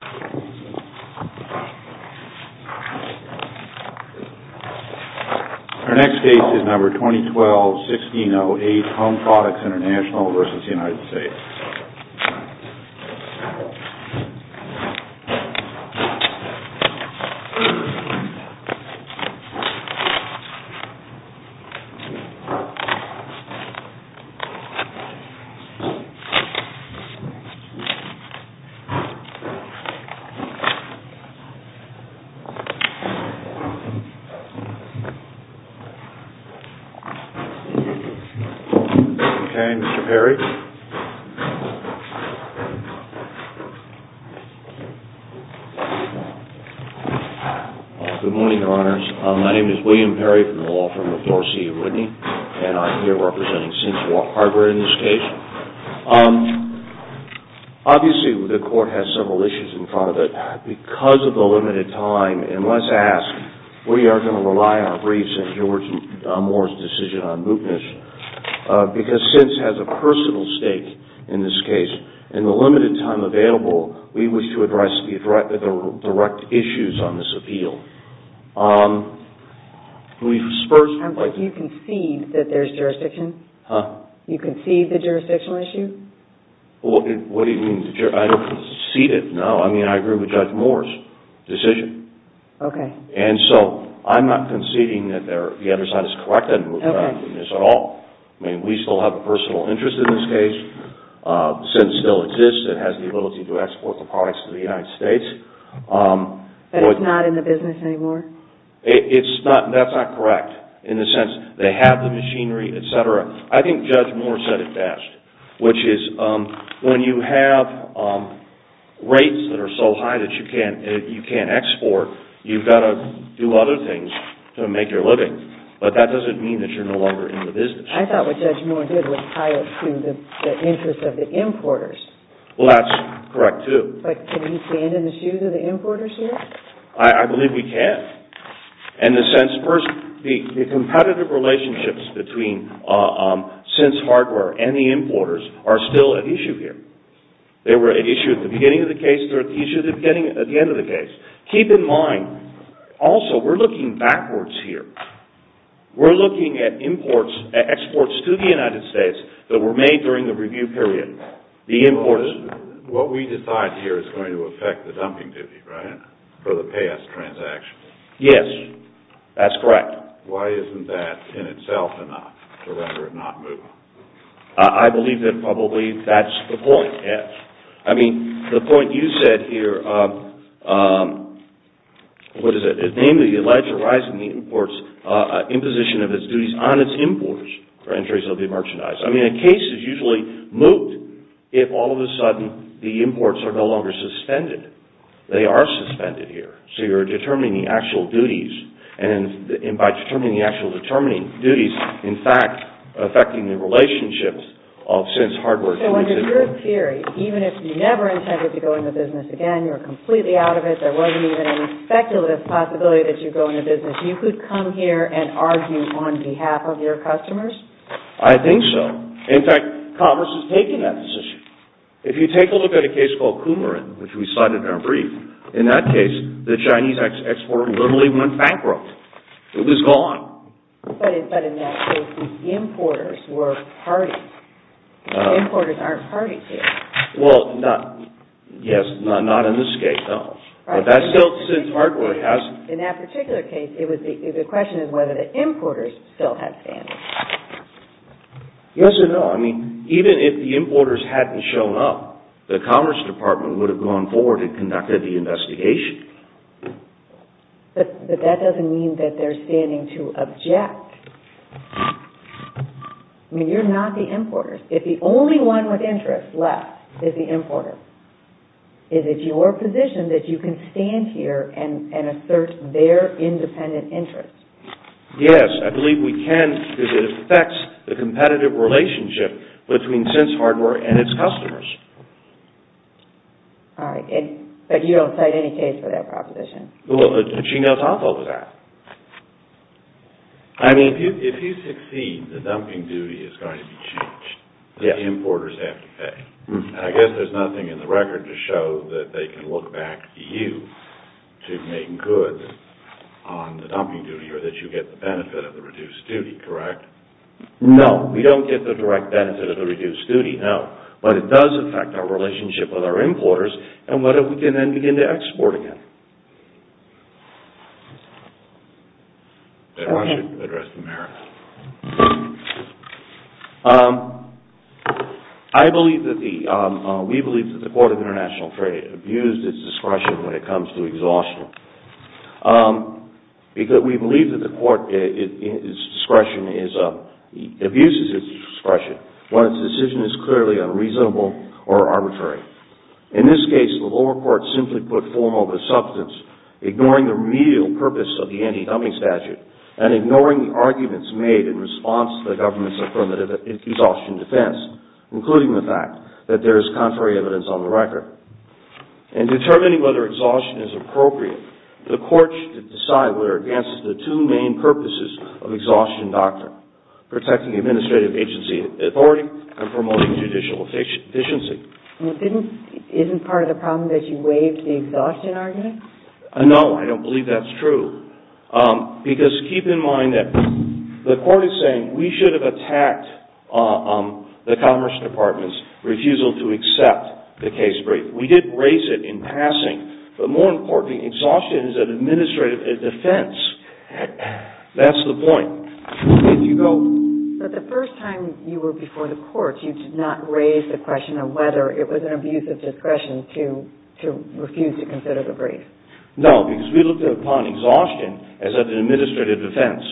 Our next case is number 2012-1608, HOME PRODUCTS INTERNATIONAL v. United States. Good morning, Your Honors. My name is William Perry from the Law Firm of Dorsey & Whitney, and I'm here representing Cincinnati Harbor in this case. Obviously, the Court has several issues in front of it. Because of the limited time, and let's ask, we are going to rely on our briefs and George Moore's decision on mootness, because CINC has a personal stake in this case. In the limited time available, we wish to address the direct issues on this appeal. Do you concede that there's jurisdiction? Do you concede the jurisdictional issue? I don't concede it, no. I agree with Judge Moore's decision. I'm not conceding that the other side is correct in mootness at all. We still have a personal interest in this case. CIN still exists. It has the ability to export the products to the United States. But it's not in the business anymore? It's not. That's not correct in the sense they have the machinery, etc. I think Judge Moore said it best, which is when you have rates that are so high that you can't export, you've got to do other things to make your living. But that doesn't mean that you're no longer in the business. I thought what Judge Moore did was tie it to the interest of the importers. Well, that's correct, too. But can we stand in the shoes of the importers here? I believe we can. In the sense, first, the competitive relationships between CIN's hardware and the importers are still at issue here. They were at issue at the beginning of the case. They're at the issue at the end of the case. Keep in mind, also, we're looking backwards here. We're looking at exports to the United States that were made during the review period. The importers... What we decide here is going to affect the dumping duty, right, for the payouts transaction? Yes, that's correct. Why isn't that in itself enough to render it not moving? I believe that probably that's the point, yes. I mean, the point you said here, what is it? Namely, the alleged rise in the imports, imposition of its duties on its importers for entries of the merchandise. I mean, a case is usually moved if, all of a sudden, the imports are no longer suspended. They are suspended here. So you're determining the actual duties. And by determining the actual duties, in fact, affecting the relationships of CIN's hardware... So under your theory, even if you never intended to go into business again, you're completely out of it, there wasn't even any speculative possibility that you'd go into business, you could come here and argue on behalf of your customers? I think so. In fact, commerce has taken that position. If you take a look at a case called Coomerant, which we cited in our brief, in that case, the Chinese exporter literally went bankrupt. It was gone. But in that case, the importers were parties. The importers aren't parties here. Well, yes, not in this case, no. But that still, since hardware has... The question is whether the importers still have standing. Yes or no. I mean, even if the importers hadn't shown up, the Commerce Department would have gone forward and conducted the investigation. But that doesn't mean that they're standing to object. I mean, you're not the importers. If the only one with interest left is the importer, is it your position that you can stand here and assert their independent interest? Yes, I believe we can because it affects the competitive relationship between Sense Hardware and its customers. All right. But you don't cite any case for that proposition? Well, she knows half of that. I mean... If you succeed, the dumping duty is going to be changed. Yes. The importers have to pay. And I guess there's nothing in the record to show that they can look back to you to make goods on the dumping duty or that you get the benefit of the reduced duty, correct? No, we don't get the direct benefit of the reduced duty, no. But it does affect our relationship with our importers and whether we can then begin to export again. Go ahead. I should address the mayor. I believe that the... We believe that the Court of International Trade abused its discretion when it comes to exhaustion because we believe that the court abuses its discretion when its decision is clearly unreasonable or arbitrary. In this case, the lower court simply put formal the substance, ignoring the remedial purpose of the anti-dumping statute and ignoring the arguments made in response to the government's affirmative exhaustion defense, including the fact that there is contrary evidence on the record. In determining whether exhaustion is appropriate, the court should decide whether it advances the two main purposes of exhaustion doctrine, protecting administrative agency authority and promoting judicial efficiency. Isn't part of the problem that you waived the exhaustion argument? No, I don't believe that's true. Because keep in mind that the court is saying we should have attacked the Commerce Department's refusal to accept the case brief. We did raise it in passing. But more importantly, exhaustion is an administrative defense. That's the point. If you go... But the first time you were before the court, you did not raise the question of whether it was an abuse of discretion to refuse to consider the brief. No, because we looked upon exhaustion as an administrative defense.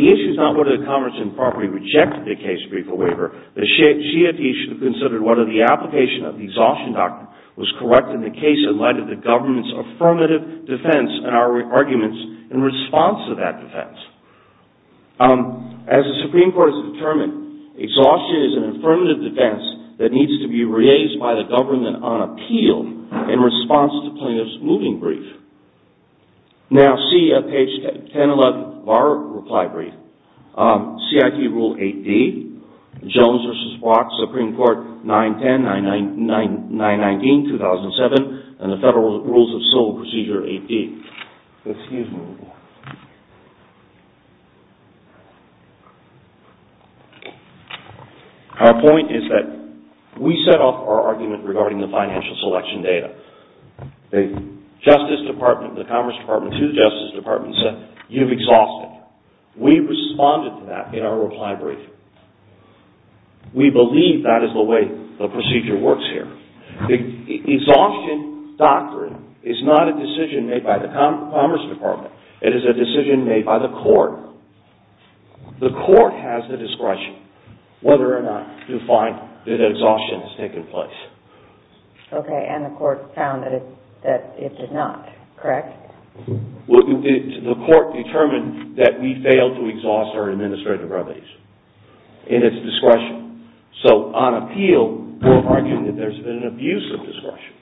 The issue is not whether the Commerce Department rejected the case brief or waiver. The issue is whether the application of the exhaustion doctrine was correct in the case in light of the government's affirmative defense and our arguments in response to that defense. As the Supreme Court has determined, exhaustion is an affirmative defense that needs to be raised by the government on appeal in response to plaintiff's moving brief. Now see page 1011 of our reply brief. CIT Rule 8D, Jones v. Brock, Supreme Court, 9-10-9-19-2007 and the Federal Rules of Civil Procedure 8D. Excuse me. Our point is that we set off our argument regarding the financial selection data. The Justice Department, the Commerce Department to the Justice Department said, you've exhausted. We responded to that in our reply brief. We believe that is the way the procedure works here. The exhaustion doctrine is not a decision made by the Commerce Department. It is a decision made by the court. The court has the discretion whether or not to find that exhaustion has taken place. Okay, and the court found that it did not, correct? The court determined that we failed to exhaust our administrative remedies in its discretion. So on appeal, we're arguing that there's been an abuse of discretion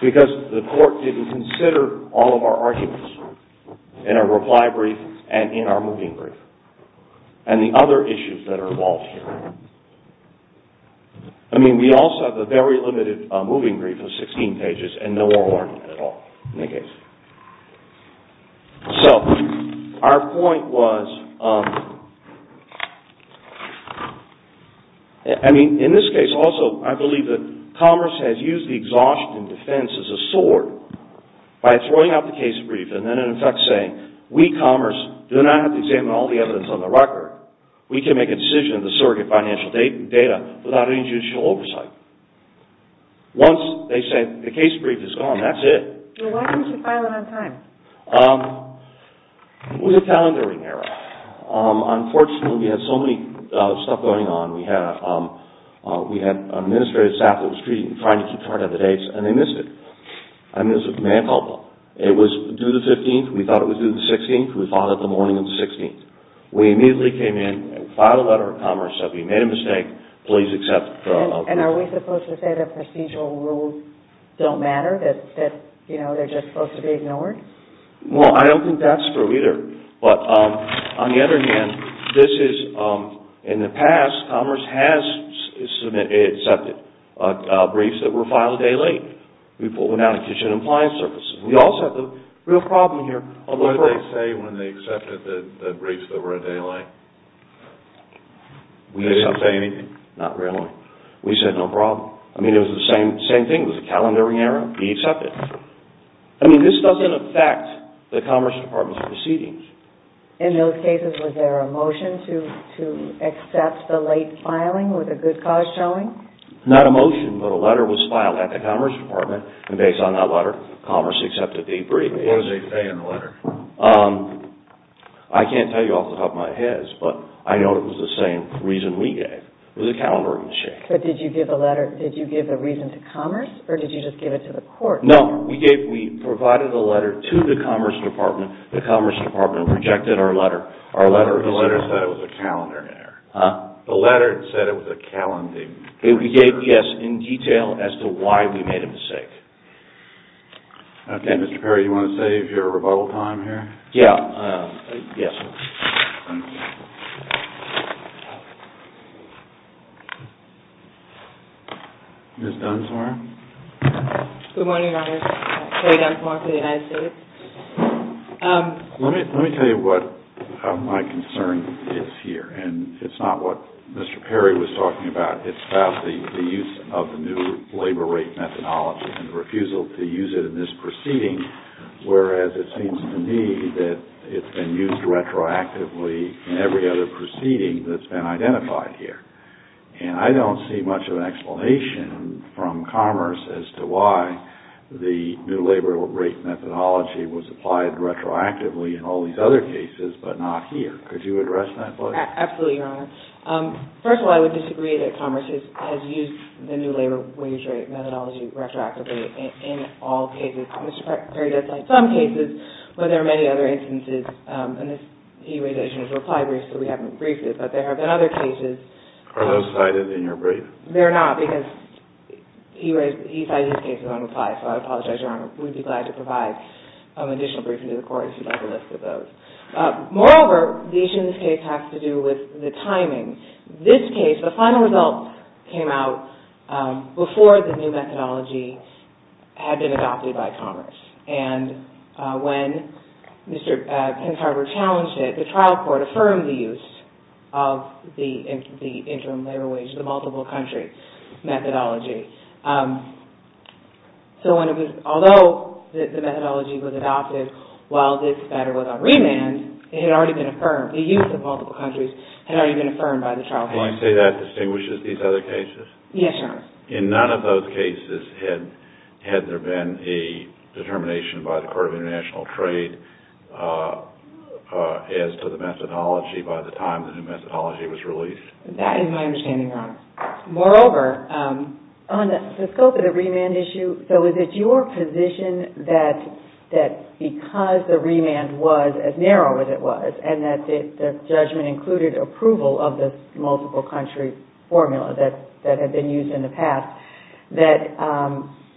because the court didn't consider all of our arguments in our reply brief and in our moving brief and the other issues that are involved here. I mean, we also have a very limited moving brief of 16 pages and no oral argument at all in the case. So, our point was... I mean, in this case also, I believe that Commerce has used the exhaustion defense as a sword by throwing out the case brief and then in effect saying, we, Commerce, do not have to examine all the evidence on the record. We can make a decision of the surrogate financial data without any judicial oversight. Once they say the case brief is gone, that's it. Well, why didn't you file it on time? It was a calendaring error. Unfortunately, we had so many stuff going on. We had an administrative staff that was trying to keep track of the dates and they missed it. I mean, it was a command call. It was due the 15th. We thought it was due the 16th. We filed it the morning of the 16th. We immediately came in and filed a letter to Commerce that we made a mistake. Please accept... And are we supposed to say that procedural rules don't matter? That, you know, they're just supposed to be ignored? Well, I don't think that's true either. But, on the other hand, this is... In the past, Commerce has accepted briefs that were filed a day late. We pulled them out of kitchen and appliance services. We also have a real problem here. What did they say when they accepted the briefs that were a day late? Did they say anything? Not really. We said, no problem. I mean, it was the same thing. It was a calendaring error. We accept it. I mean, this doesn't affect the Commerce Department's proceedings. In those cases, was there a motion to accept the late filing with a good cause showing? Not a motion, but a letter was filed at the Commerce Department. And based on that letter, Commerce accepted the brief. What did they say in the letter? I can't tell you off the top of my head. But I know it was the same reason we gave. It was a calendaring mistake. But did you give the reason to Commerce, or did you just give it to the court? No. We provided the letter to the Commerce Department. The Commerce Department rejected our letter. The letter said it was a calendaring error. Huh? The letter said it was a calendaring error. We gave, yes, in detail as to why we made a mistake. Okay, Mr. Perry, do you want to save your rebuttal time here? Yeah. Yes, sir. Ms. Dunsmore? Good morning, Your Honor. Kerry Dunsmore for the United States. Let me tell you what my concern is here. And it's not what Mr. Perry was talking about. It's about the use of the new labor rate methodology and the refusal to use it in this proceeding, whereas it seems to me that it's been used retroactively in every other proceeding that's been identified here. And I don't see much of an explanation from Commerce as to why the new labor rate methodology was applied retroactively in all these other cases, but not here. Could you address that, please? Absolutely, Your Honor. First of all, I would disagree that Commerce has used the new labor wage rate methodology retroactively in all cases. Mr. Perry does cite some cases where there are many other instances. And he raised the issue in his reply brief, so we haven't briefed it. But there have been other cases. Are those cited in your brief? They're not, because he cited these cases on reply. So I apologize, Your Honor. We'd be glad to provide an additional briefing to the Court if you'd like a list of those. Moreover, the issue in this case has to do with the timing. This case, the final results came out before the new methodology had been adopted by Commerce. And when Mr. Pensarver challenged it, the trial court affirmed the use of the interim labor wage, the multiple country methodology. So although the methodology was adopted while this matter was on remand, it had already been affirmed. The use of multiple countries had already been affirmed by the trial court. Will I say that distinguishes these other cases? Yes, Your Honor. In none of those cases had there been a determination by the Court of International Trade as to the methodology by the time the new methodology was released. That is my understanding, Your Honor. Moreover, on the scope of the remand issue, so is it your position that because the remand was as narrow as it was, and that the judgment included approval of the multiple country formula that had been used in the past, that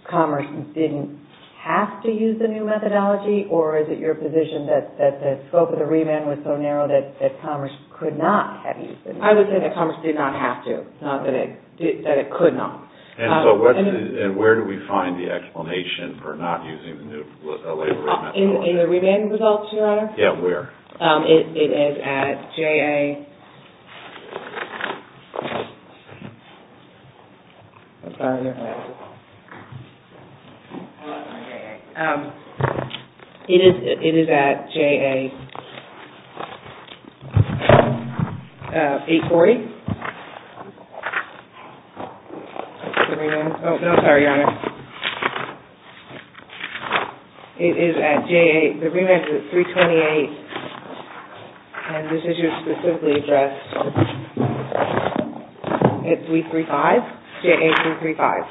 Commerce didn't have to use the new methodology? Or is it your position that the scope of the remand was so narrow that Commerce could not have used it? I would say that Commerce did not have to, not that it could not. And where do we find the explanation for not using the new labor wage methodology? In the remand results, Your Honor? Yes, where? It is at J.A. 840. The remand is at 328, and this issue is specifically addressed at 335, J.A. 335.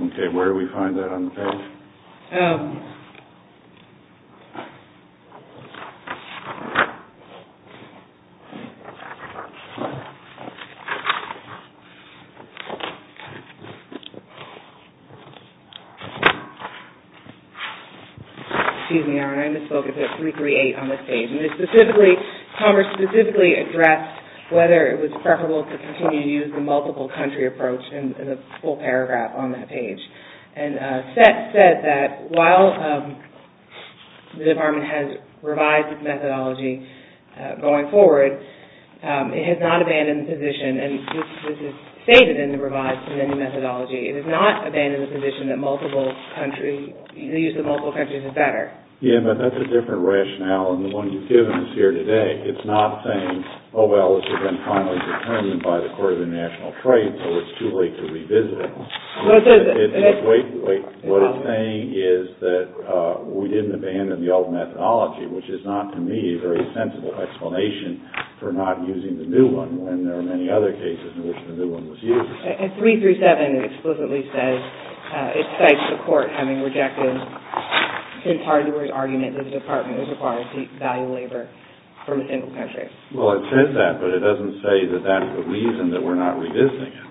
Okay, where do we find that on the page? Excuse me, Your Honor, I misspoke. It is at 338 on this page. It specifically, Commerce specifically addressed whether it was preferable to continue to use the multiple country approach in the full paragraph on that page. And Seth said that while the Department has revised its methodology going forward, it has not abandoned the position, and this is stated in the revised amended methodology, it has not abandoned the position that multiple country, the use of multiple countries is better. Yeah, but that's a different rationale than the one you've given us here today. It's not saying, oh well, it's been finally determined by the Court of the National Trade, so it's too late to revisit it. Wait, wait. What it's saying is that we didn't abandon the old methodology, which is not, to me, a very sensible explanation for not using the new one when there are many other cases in which the new one was used. At 337, it explicitly says, it cites the Court having rejected the entire argument that the Department is required to value labor from a single country. Well, it says that, but it doesn't say that that's the reason that we're not revisiting it.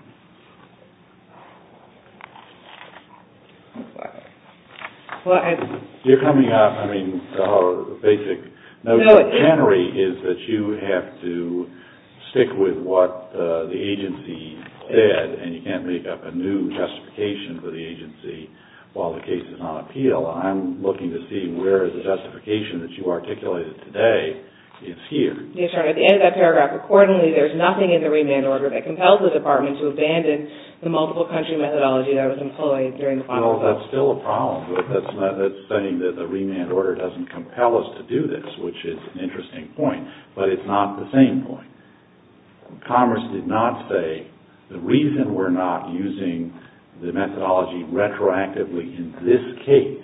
You're coming off, I mean, our basic notion of cannery is that you have to stick with what the agency said, and you can't make up a new justification for the agency while the case is on appeal. Well, I'm looking to see where the justification that you articulated today is here. Yes, sir. At the end of that paragraph, accordingly, there's nothing in the remand order that compels the Department to abandon the multiple country methodology that was employed during the process. Well, that's still a problem. That's saying that the remand order doesn't compel us to do this, which is an interesting point, but it's not the same point. Commerce did not say the reason we're not using the methodology retroactively in this case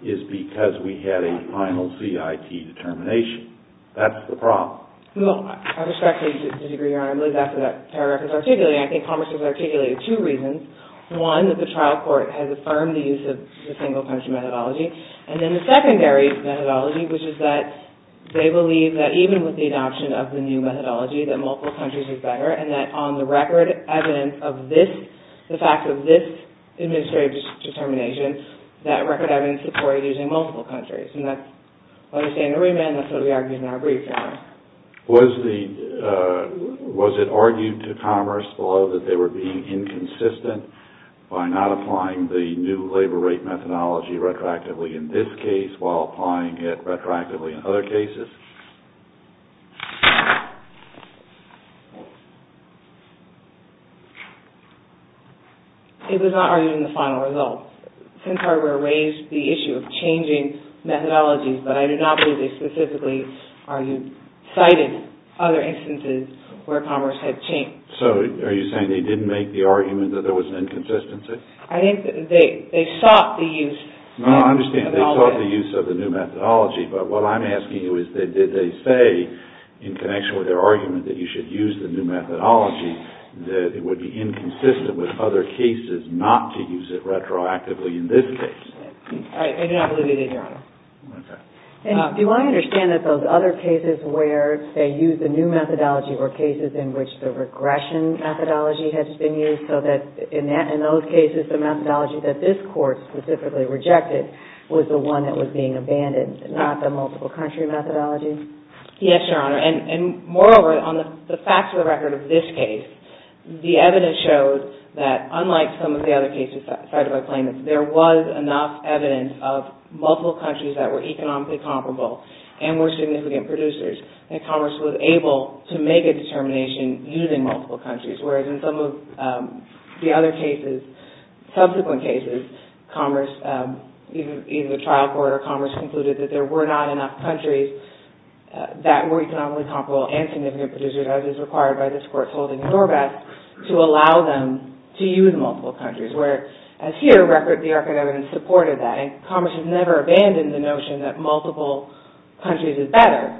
is because we had a final CIT determination. That's the problem. Well, I respectfully disagree, Your Honor. I believe that's what that paragraph is articulating. I think Commerce has articulated two reasons. One, that the trial court has affirmed the use of the single country methodology. And then the secondary methodology, which is that they believe that even with the adoption of the new methodology, that multiple countries is better, and that on the record evidence of this, the fact of this administrative determination, that record evidence supported using multiple countries. And that's what we say in the remand, and that's what we argued in our brief, Your Honor. Was it argued to Commerce below that they were being inconsistent by not applying the new labor rate methodology retroactively in this case, while applying it retroactively in other cases? It was not argued in the final results. Since I raised the issue of changing methodologies, but I do not believe they specifically cited other instances where Commerce had changed. So, are you saying they didn't make the argument that there was an inconsistency? I think they sought the use. No, I understand. They sought the use of the new methodology. But what I'm asking you is, did they say, in connection with their argument that you should use the new methodology, that it would be inconsistent with other cases not to use it retroactively in this case? I do not believe they did, Your Honor. Okay. Do I understand that those other cases where they used the new methodology were cases in which the regression methodology had been used, so that in those cases the methodology that this Court specifically rejected was the one that was being abandoned, not the multiple country methodology? Yes, Your Honor. And moreover, on the facts of the record of this case, the evidence shows that, unlike some of the other cases cited by plaintiffs, there was enough evidence of multiple countries that were economically comparable and were significant producers. And Commerce was able to make a determination using multiple countries, whereas in some of the other cases, subsequent cases, either the trial court or Commerce concluded that there were not enough countries that were economically comparable and significant producers, as is required by this Court's holding in Norvath, to allow them to use multiple countries, whereas here, the record of evidence supported that. And Commerce has never abandoned the notion that multiple countries is better,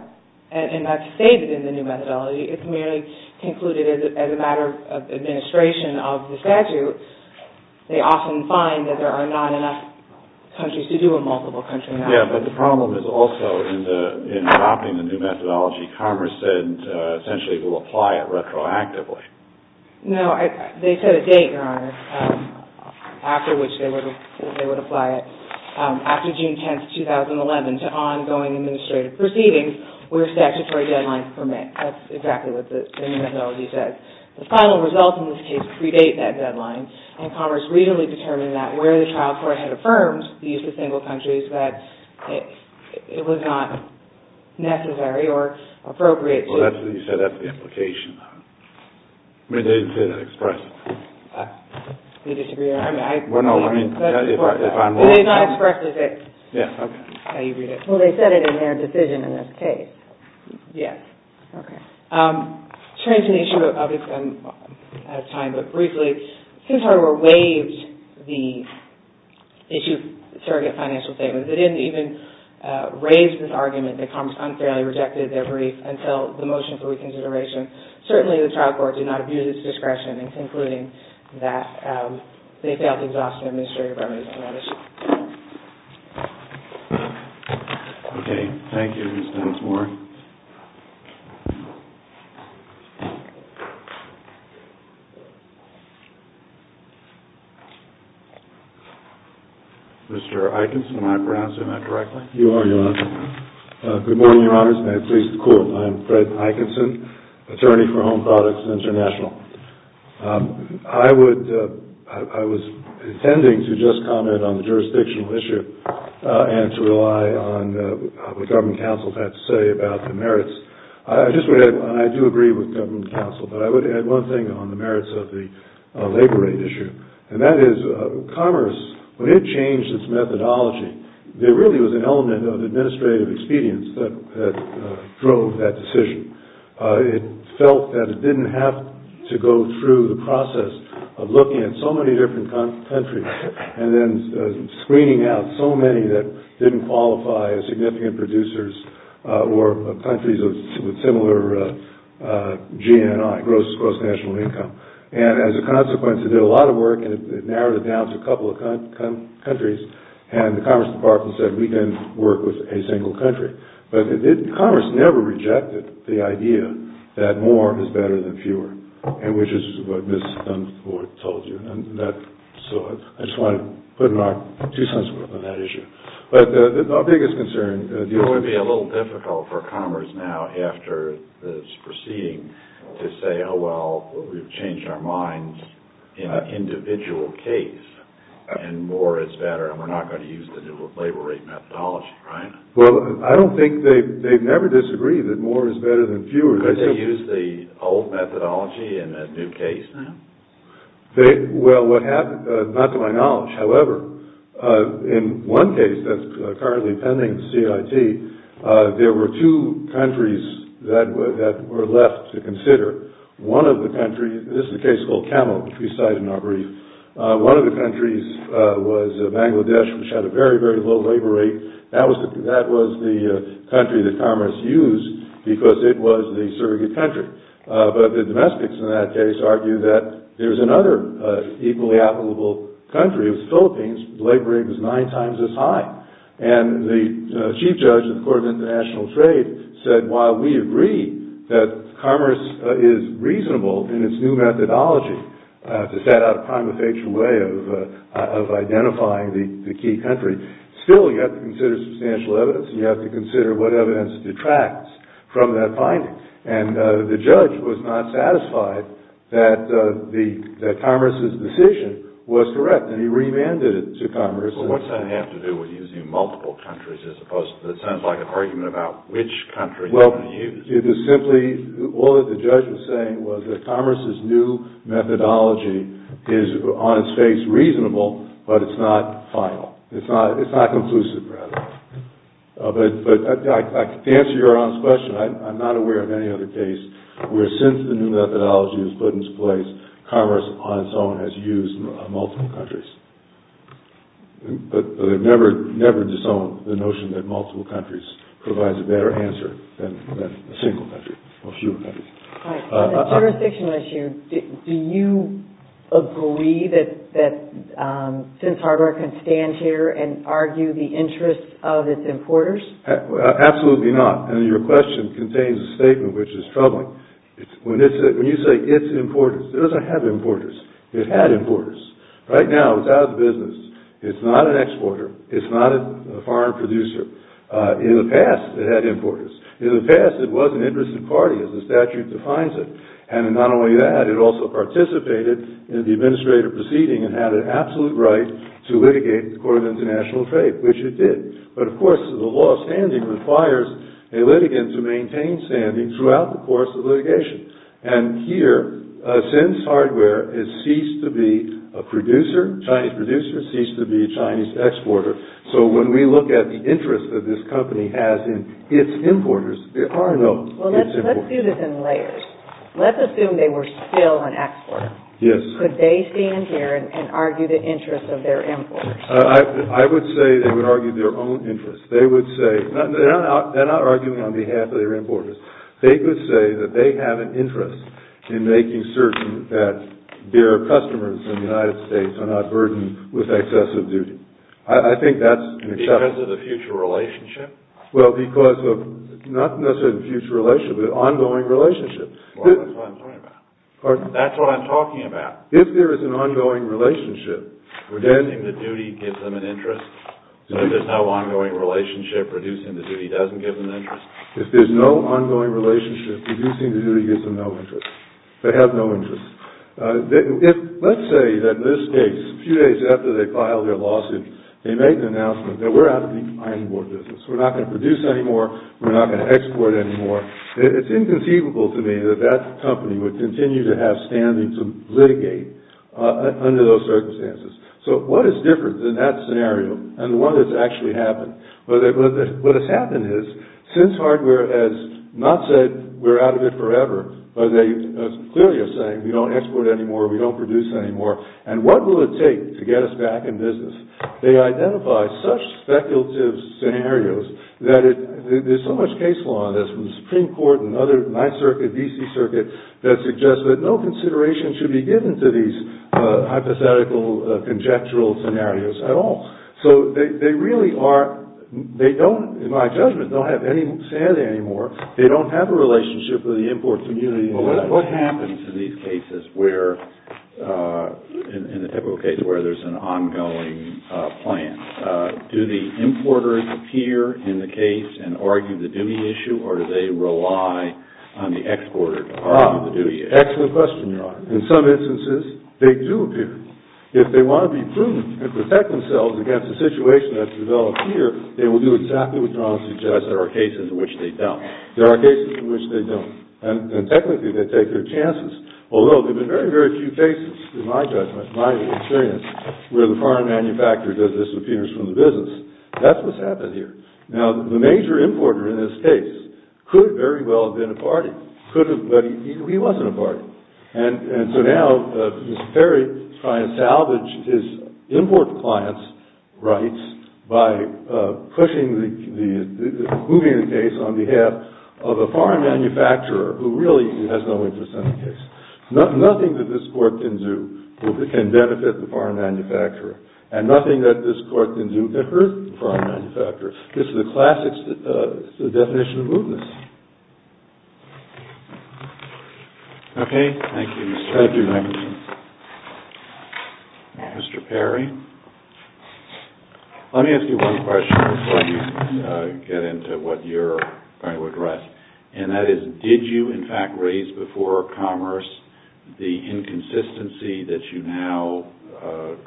and that's stated in the new methodology. It's merely concluded as a matter of administration of the statute. They often find that there are not enough countries to do a multiple country methodology. Yes, but the problem is also in adopting the new methodology. Commerce said essentially it will apply it retroactively. No, they set a date, Your Honor, after which they would apply it. After June 10, 2011, to ongoing administrative proceedings where statutory deadlines permit. That's exactly what the new methodology says. The final results in this case predate that deadline. And Commerce reasonably determined that where the trial court had affirmed the use of single countries, that it was not necessary or appropriate to. Well, that's what you said. That's the implication. But they didn't say that expressively. You disagree, Your Honor? Well, no, I mean, if I'm wrong. They did not express it. Yes, okay. That's how you read it. Well, they said it in their decision in this case. Yes. Okay. Turning to the issue of, I'm out of time, but briefly, it seems Harvard waived the issue of surrogate financial statements. It didn't even raise this argument that Commerce unfairly rejected their brief until the motion for reconsideration. Certainly, the trial court did not abuse its discretion in concluding that they felt exhaustive administrative remedies on that issue. Okay, thank you, Ms. Dunsmore. Mr. Eikenson, am I pronouncing that correctly? You are, Your Honor. Good morning, Your Honors, and may it please the Court. I'm Fred Eikenson, attorney for Home Products International. I was intending to just comment on the jurisdictional issue and to rely on what the government counsel had to say about the merits. I just would add, and I do agree with government counsel, but I would add one thing on the merits of the labor rate issue, and that is Commerce, when it changed its methodology, there really was an element of administrative expedience that drove that decision. It felt that it didn't have to go through the process of looking at so many different countries and then screening out so many that didn't qualify as significant producers or countries with similar GNI, gross national income. And as a consequence, it did a lot of work and it narrowed it down to a couple of countries, and the Commerce Department said we can work with a single country. But Commerce never rejected the idea that more is better than fewer, and which is what Ms. Dunford told you. And so I just want to put in our two cents worth on that issue. But our biggest concern is that it would be a little difficult for Commerce now after this proceeding to say, oh, well, we've changed our minds in an individual case, and more is better, and we're not going to use the new labor rate methodology, right? Well, I don't think they've never disagreed that more is better than fewer. Could they use the old methodology in a new case now? Well, not to my knowledge. However, in one case that's currently pending CIT, there were two countries that were left to consider. This is a case called Camel, which we cite in our brief. One of the countries was Bangladesh, which had a very, very low labor rate. That was the country that Commerce used because it was the surrogate country. But the domestics in that case argued that there was another equally applicable country. It was the Philippines. The labor rate was nine times as high. And the chief judge of the Court of International Trade said, while we agree that Commerce is reasonable in its new methodology to set out a prima facie way of identifying the key country, still you have to consider substantial evidence, and you have to consider what evidence detracts from that finding. And the judge was not satisfied that Commerce's decision was correct, and he remanded it to Commerce. But what's that have to do with using multiple countries as opposed to, that sounds like an argument about which country you want to use? Well, it was simply all that the judge was saying was that Commerce's new methodology is on its face reasonable, but it's not final. It's not conclusive, rather. But to answer your honest question, I'm not aware of any other case where since the new methodology was put into place, Commerce on its own has used multiple countries. But they've never disowned the notion that multiple countries provides a better answer than a single country or fewer countries. On the jurisdictional issue, do you agree that Since Hardware can stand here and argue the interests of its importers? Absolutely not. And your question contains a statement which is troubling. When you say its importers, it doesn't have importers. It had importers. Right now, it's out of the business. It's not an exporter. It's not a foreign producer. In the past, it had importers. In the past, it was an interested party, as the statute defines it. And not only that, it also participated in the administrative proceeding and had an absolute right to litigate the Court of International Trade, which it did. But, of course, the law of standing requires a litigant to maintain standing throughout the course of litigation. And here, Since Hardware has ceased to be a producer, Chinese producer, ceased to be a Chinese exporter. So when we look at the interest that this company has in its importers, there are no its importers. Well, let's do this in layers. Let's assume they were still an exporter. Yes. Could they stand here and argue the interests of their importers? I would say they would argue their own interests. They would say – they're not arguing on behalf of their importers. They would say that they have an interest in making certain that their customers in the United States are not burdened with excessive duty. I think that's an exception. Because of the future relationship? Well, because of – not necessarily future relationship, but ongoing relationship. Well, that's what I'm talking about. Pardon? That's what I'm talking about. If there is an ongoing relationship, then – Reducing the duty gives them an interest. So if there's no ongoing relationship, reducing the duty doesn't give them an interest? If there's no ongoing relationship, reducing the duty gives them no interest. They have no interest. Let's say that in this case, a few days after they filed their lawsuit, they made an announcement that we're out of the iron ore business. We're not going to produce anymore. We're not going to export anymore. It's inconceivable to me that that company would continue to have standing to litigate under those circumstances. So what is different in that scenario and what has actually happened? What has happened is since hardware has not said we're out of it forever, they clearly are saying we don't export anymore, we don't produce anymore, and what will it take to get us back in business? They identify such speculative scenarios that it – there's so much case law in this, from the Supreme Court and other – my circuit, D.C. circuit, that suggests that no consideration should be given to these hypothetical, conjectural scenarios at all. So they really are – they don't, in my judgment, don't have any standing anymore. They don't have a relationship with the import community. Well, what happens in these cases where – in the typical case where there's an ongoing plan? Do the importers appear in the case and argue the duty issue, or do they rely on the exporter to argue the duty issue? Excellent question, Your Honor. In some instances, they do appear. If they want to be prudent and protect themselves against a situation that's developed here, they will do exactly what Your Honor suggests. There are cases in which they don't. There are cases in which they don't. And technically, they take their chances. Although, there have been very, very few cases, in my judgment, in my experience, where the foreign manufacturer does disappearance from the business. That's what's happened here. Now, the major importer in this case could very well have been a party. Could have, but he wasn't a party. And so now, Mr. Perry is trying to salvage his import client's rights by pushing the – moving the case on behalf of a foreign manufacturer who really has no interest in the case. Nothing that this court can do can benefit the foreign manufacturer, and nothing that this court can do can hurt the foreign manufacturer. This is a classic definition of movement. Okay. Thank you, Mr. Edgerton. Mr. Perry. Let me ask you one question before you get into what you're trying to address. And that is, did you, in fact, raise before Commerce the inconsistency that you now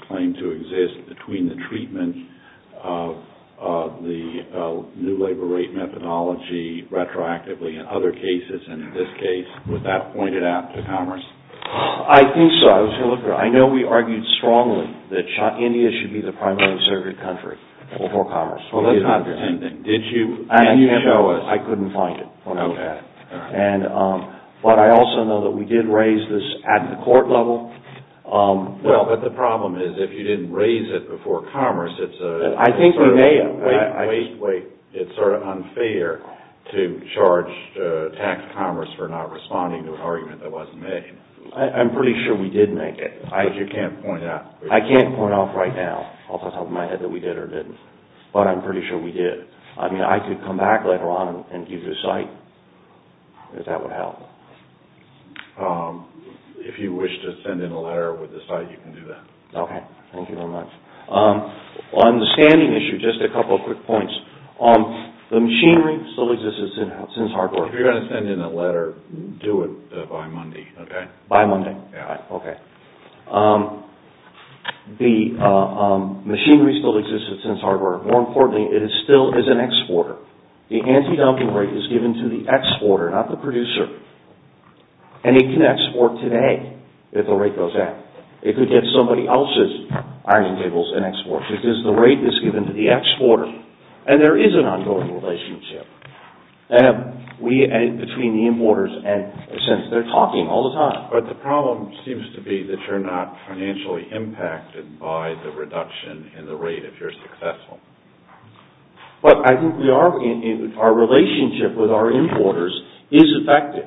claim to exist between the treatment of the new labor rate methodology retroactively in other cases, and in this case, would that point it out to Commerce? I think so. I was going to look at it. I know we argued strongly that India should be the primary insurgent country before Commerce. Well, let's do the same thing. Did you? Can you show us? I couldn't find it. Okay. But I also know that we did raise this at the court level. Well, but the problem is, if you didn't raise it before Commerce, it's a... I think we may have. Wait, wait, wait. It's sort of unfair to charge tax Commerce for not responding to an argument that wasn't made. I'm pretty sure we did make it. You can't point it out. I can't point it out right now, off the top of my head, that we did or didn't. But I'm pretty sure we did. I mean, I could come back later on and give you a cite, if that would help. If you wish to send in a letter with the cite, you can do that. Okay. Thank you very much. On the standing issue, just a couple of quick points. The machinery still exists at Sins Hardware. If you're going to send in a letter, do it by Monday, okay? By Monday? Yeah. Okay. The machinery still exists at Sins Hardware. More importantly, it still is an exporter. The antidumping rate is given to the exporter, not the producer. And it can export today if the rate goes up. It could get somebody else's iron tables and export, because the rate is given to the exporter. And there is an ongoing relationship between the importers and Sins. They're talking all the time. But the problem seems to be that you're not financially impacted by the reduction in the rate if you're successful. But I think our relationship with our importers is affected.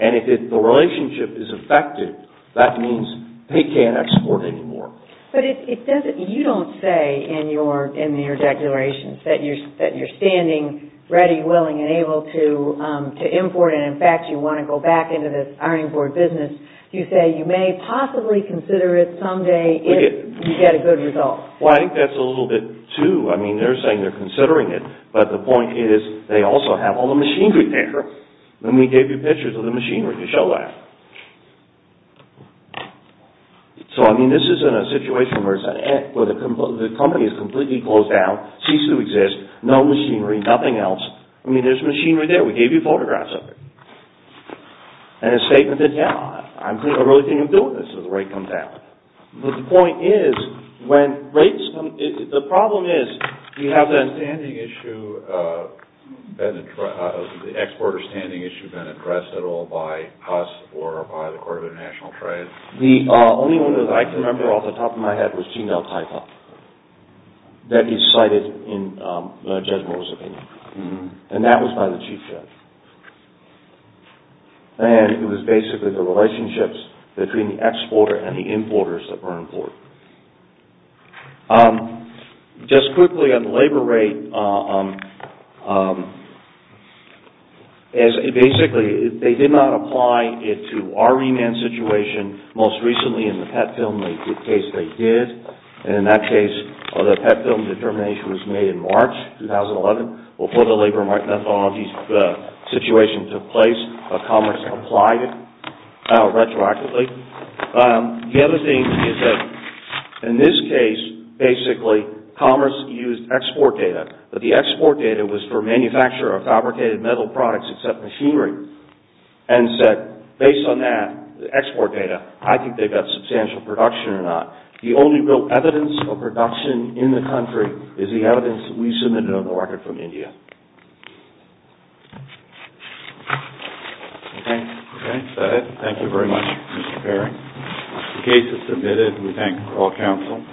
And if the relationship is affected, that means they can't export anymore. But you don't say in your declarations that you're standing ready, willing, and able to import. And, in fact, you want to go back into this ironing board business. You say you may possibly consider it someday if you get a good result. Well, I think that's a little bit too. I mean, they're saying they're considering it. But the point is they also have all the machinery there. And we gave you pictures of the machinery to show that. So, I mean, this isn't a situation where the company is completely closed down, ceased to exist, no machinery, nothing else. I mean, there's machinery there. We gave you photographs of it. And a statement that, yeah, I'm really thinking of doing this when the rate comes down. But the point is when rates come – the problem is you have that standing issue, the exporter standing issue being addressed at all by us or by the Court of International Trade. The only one that I can remember off the top of my head was Jindal-Taipa that he cited in Judge Moore's opinion. And that was by the Chief Judge. And it was basically the relationships between the exporter and the importers that were important. Just quickly on the labor rate, basically, they did not apply it to our remand situation. Most recently in the PET film case, they did. And in that case, the PET film determination was made in March 2011. Before the Labor and Right Methodology situation took place, Commerce applied it retroactively. The other thing is that in this case, basically, Commerce used export data. But the export data was for manufacture of fabricated metal products except machinery. And said, based on that export data, I think they've got substantial production or not. The only real evidence of production in the country is the evidence we submitted on the record from India. Okay. That's it. Thank you very much, Mr. Perry. The case is submitted. We thank all counsel.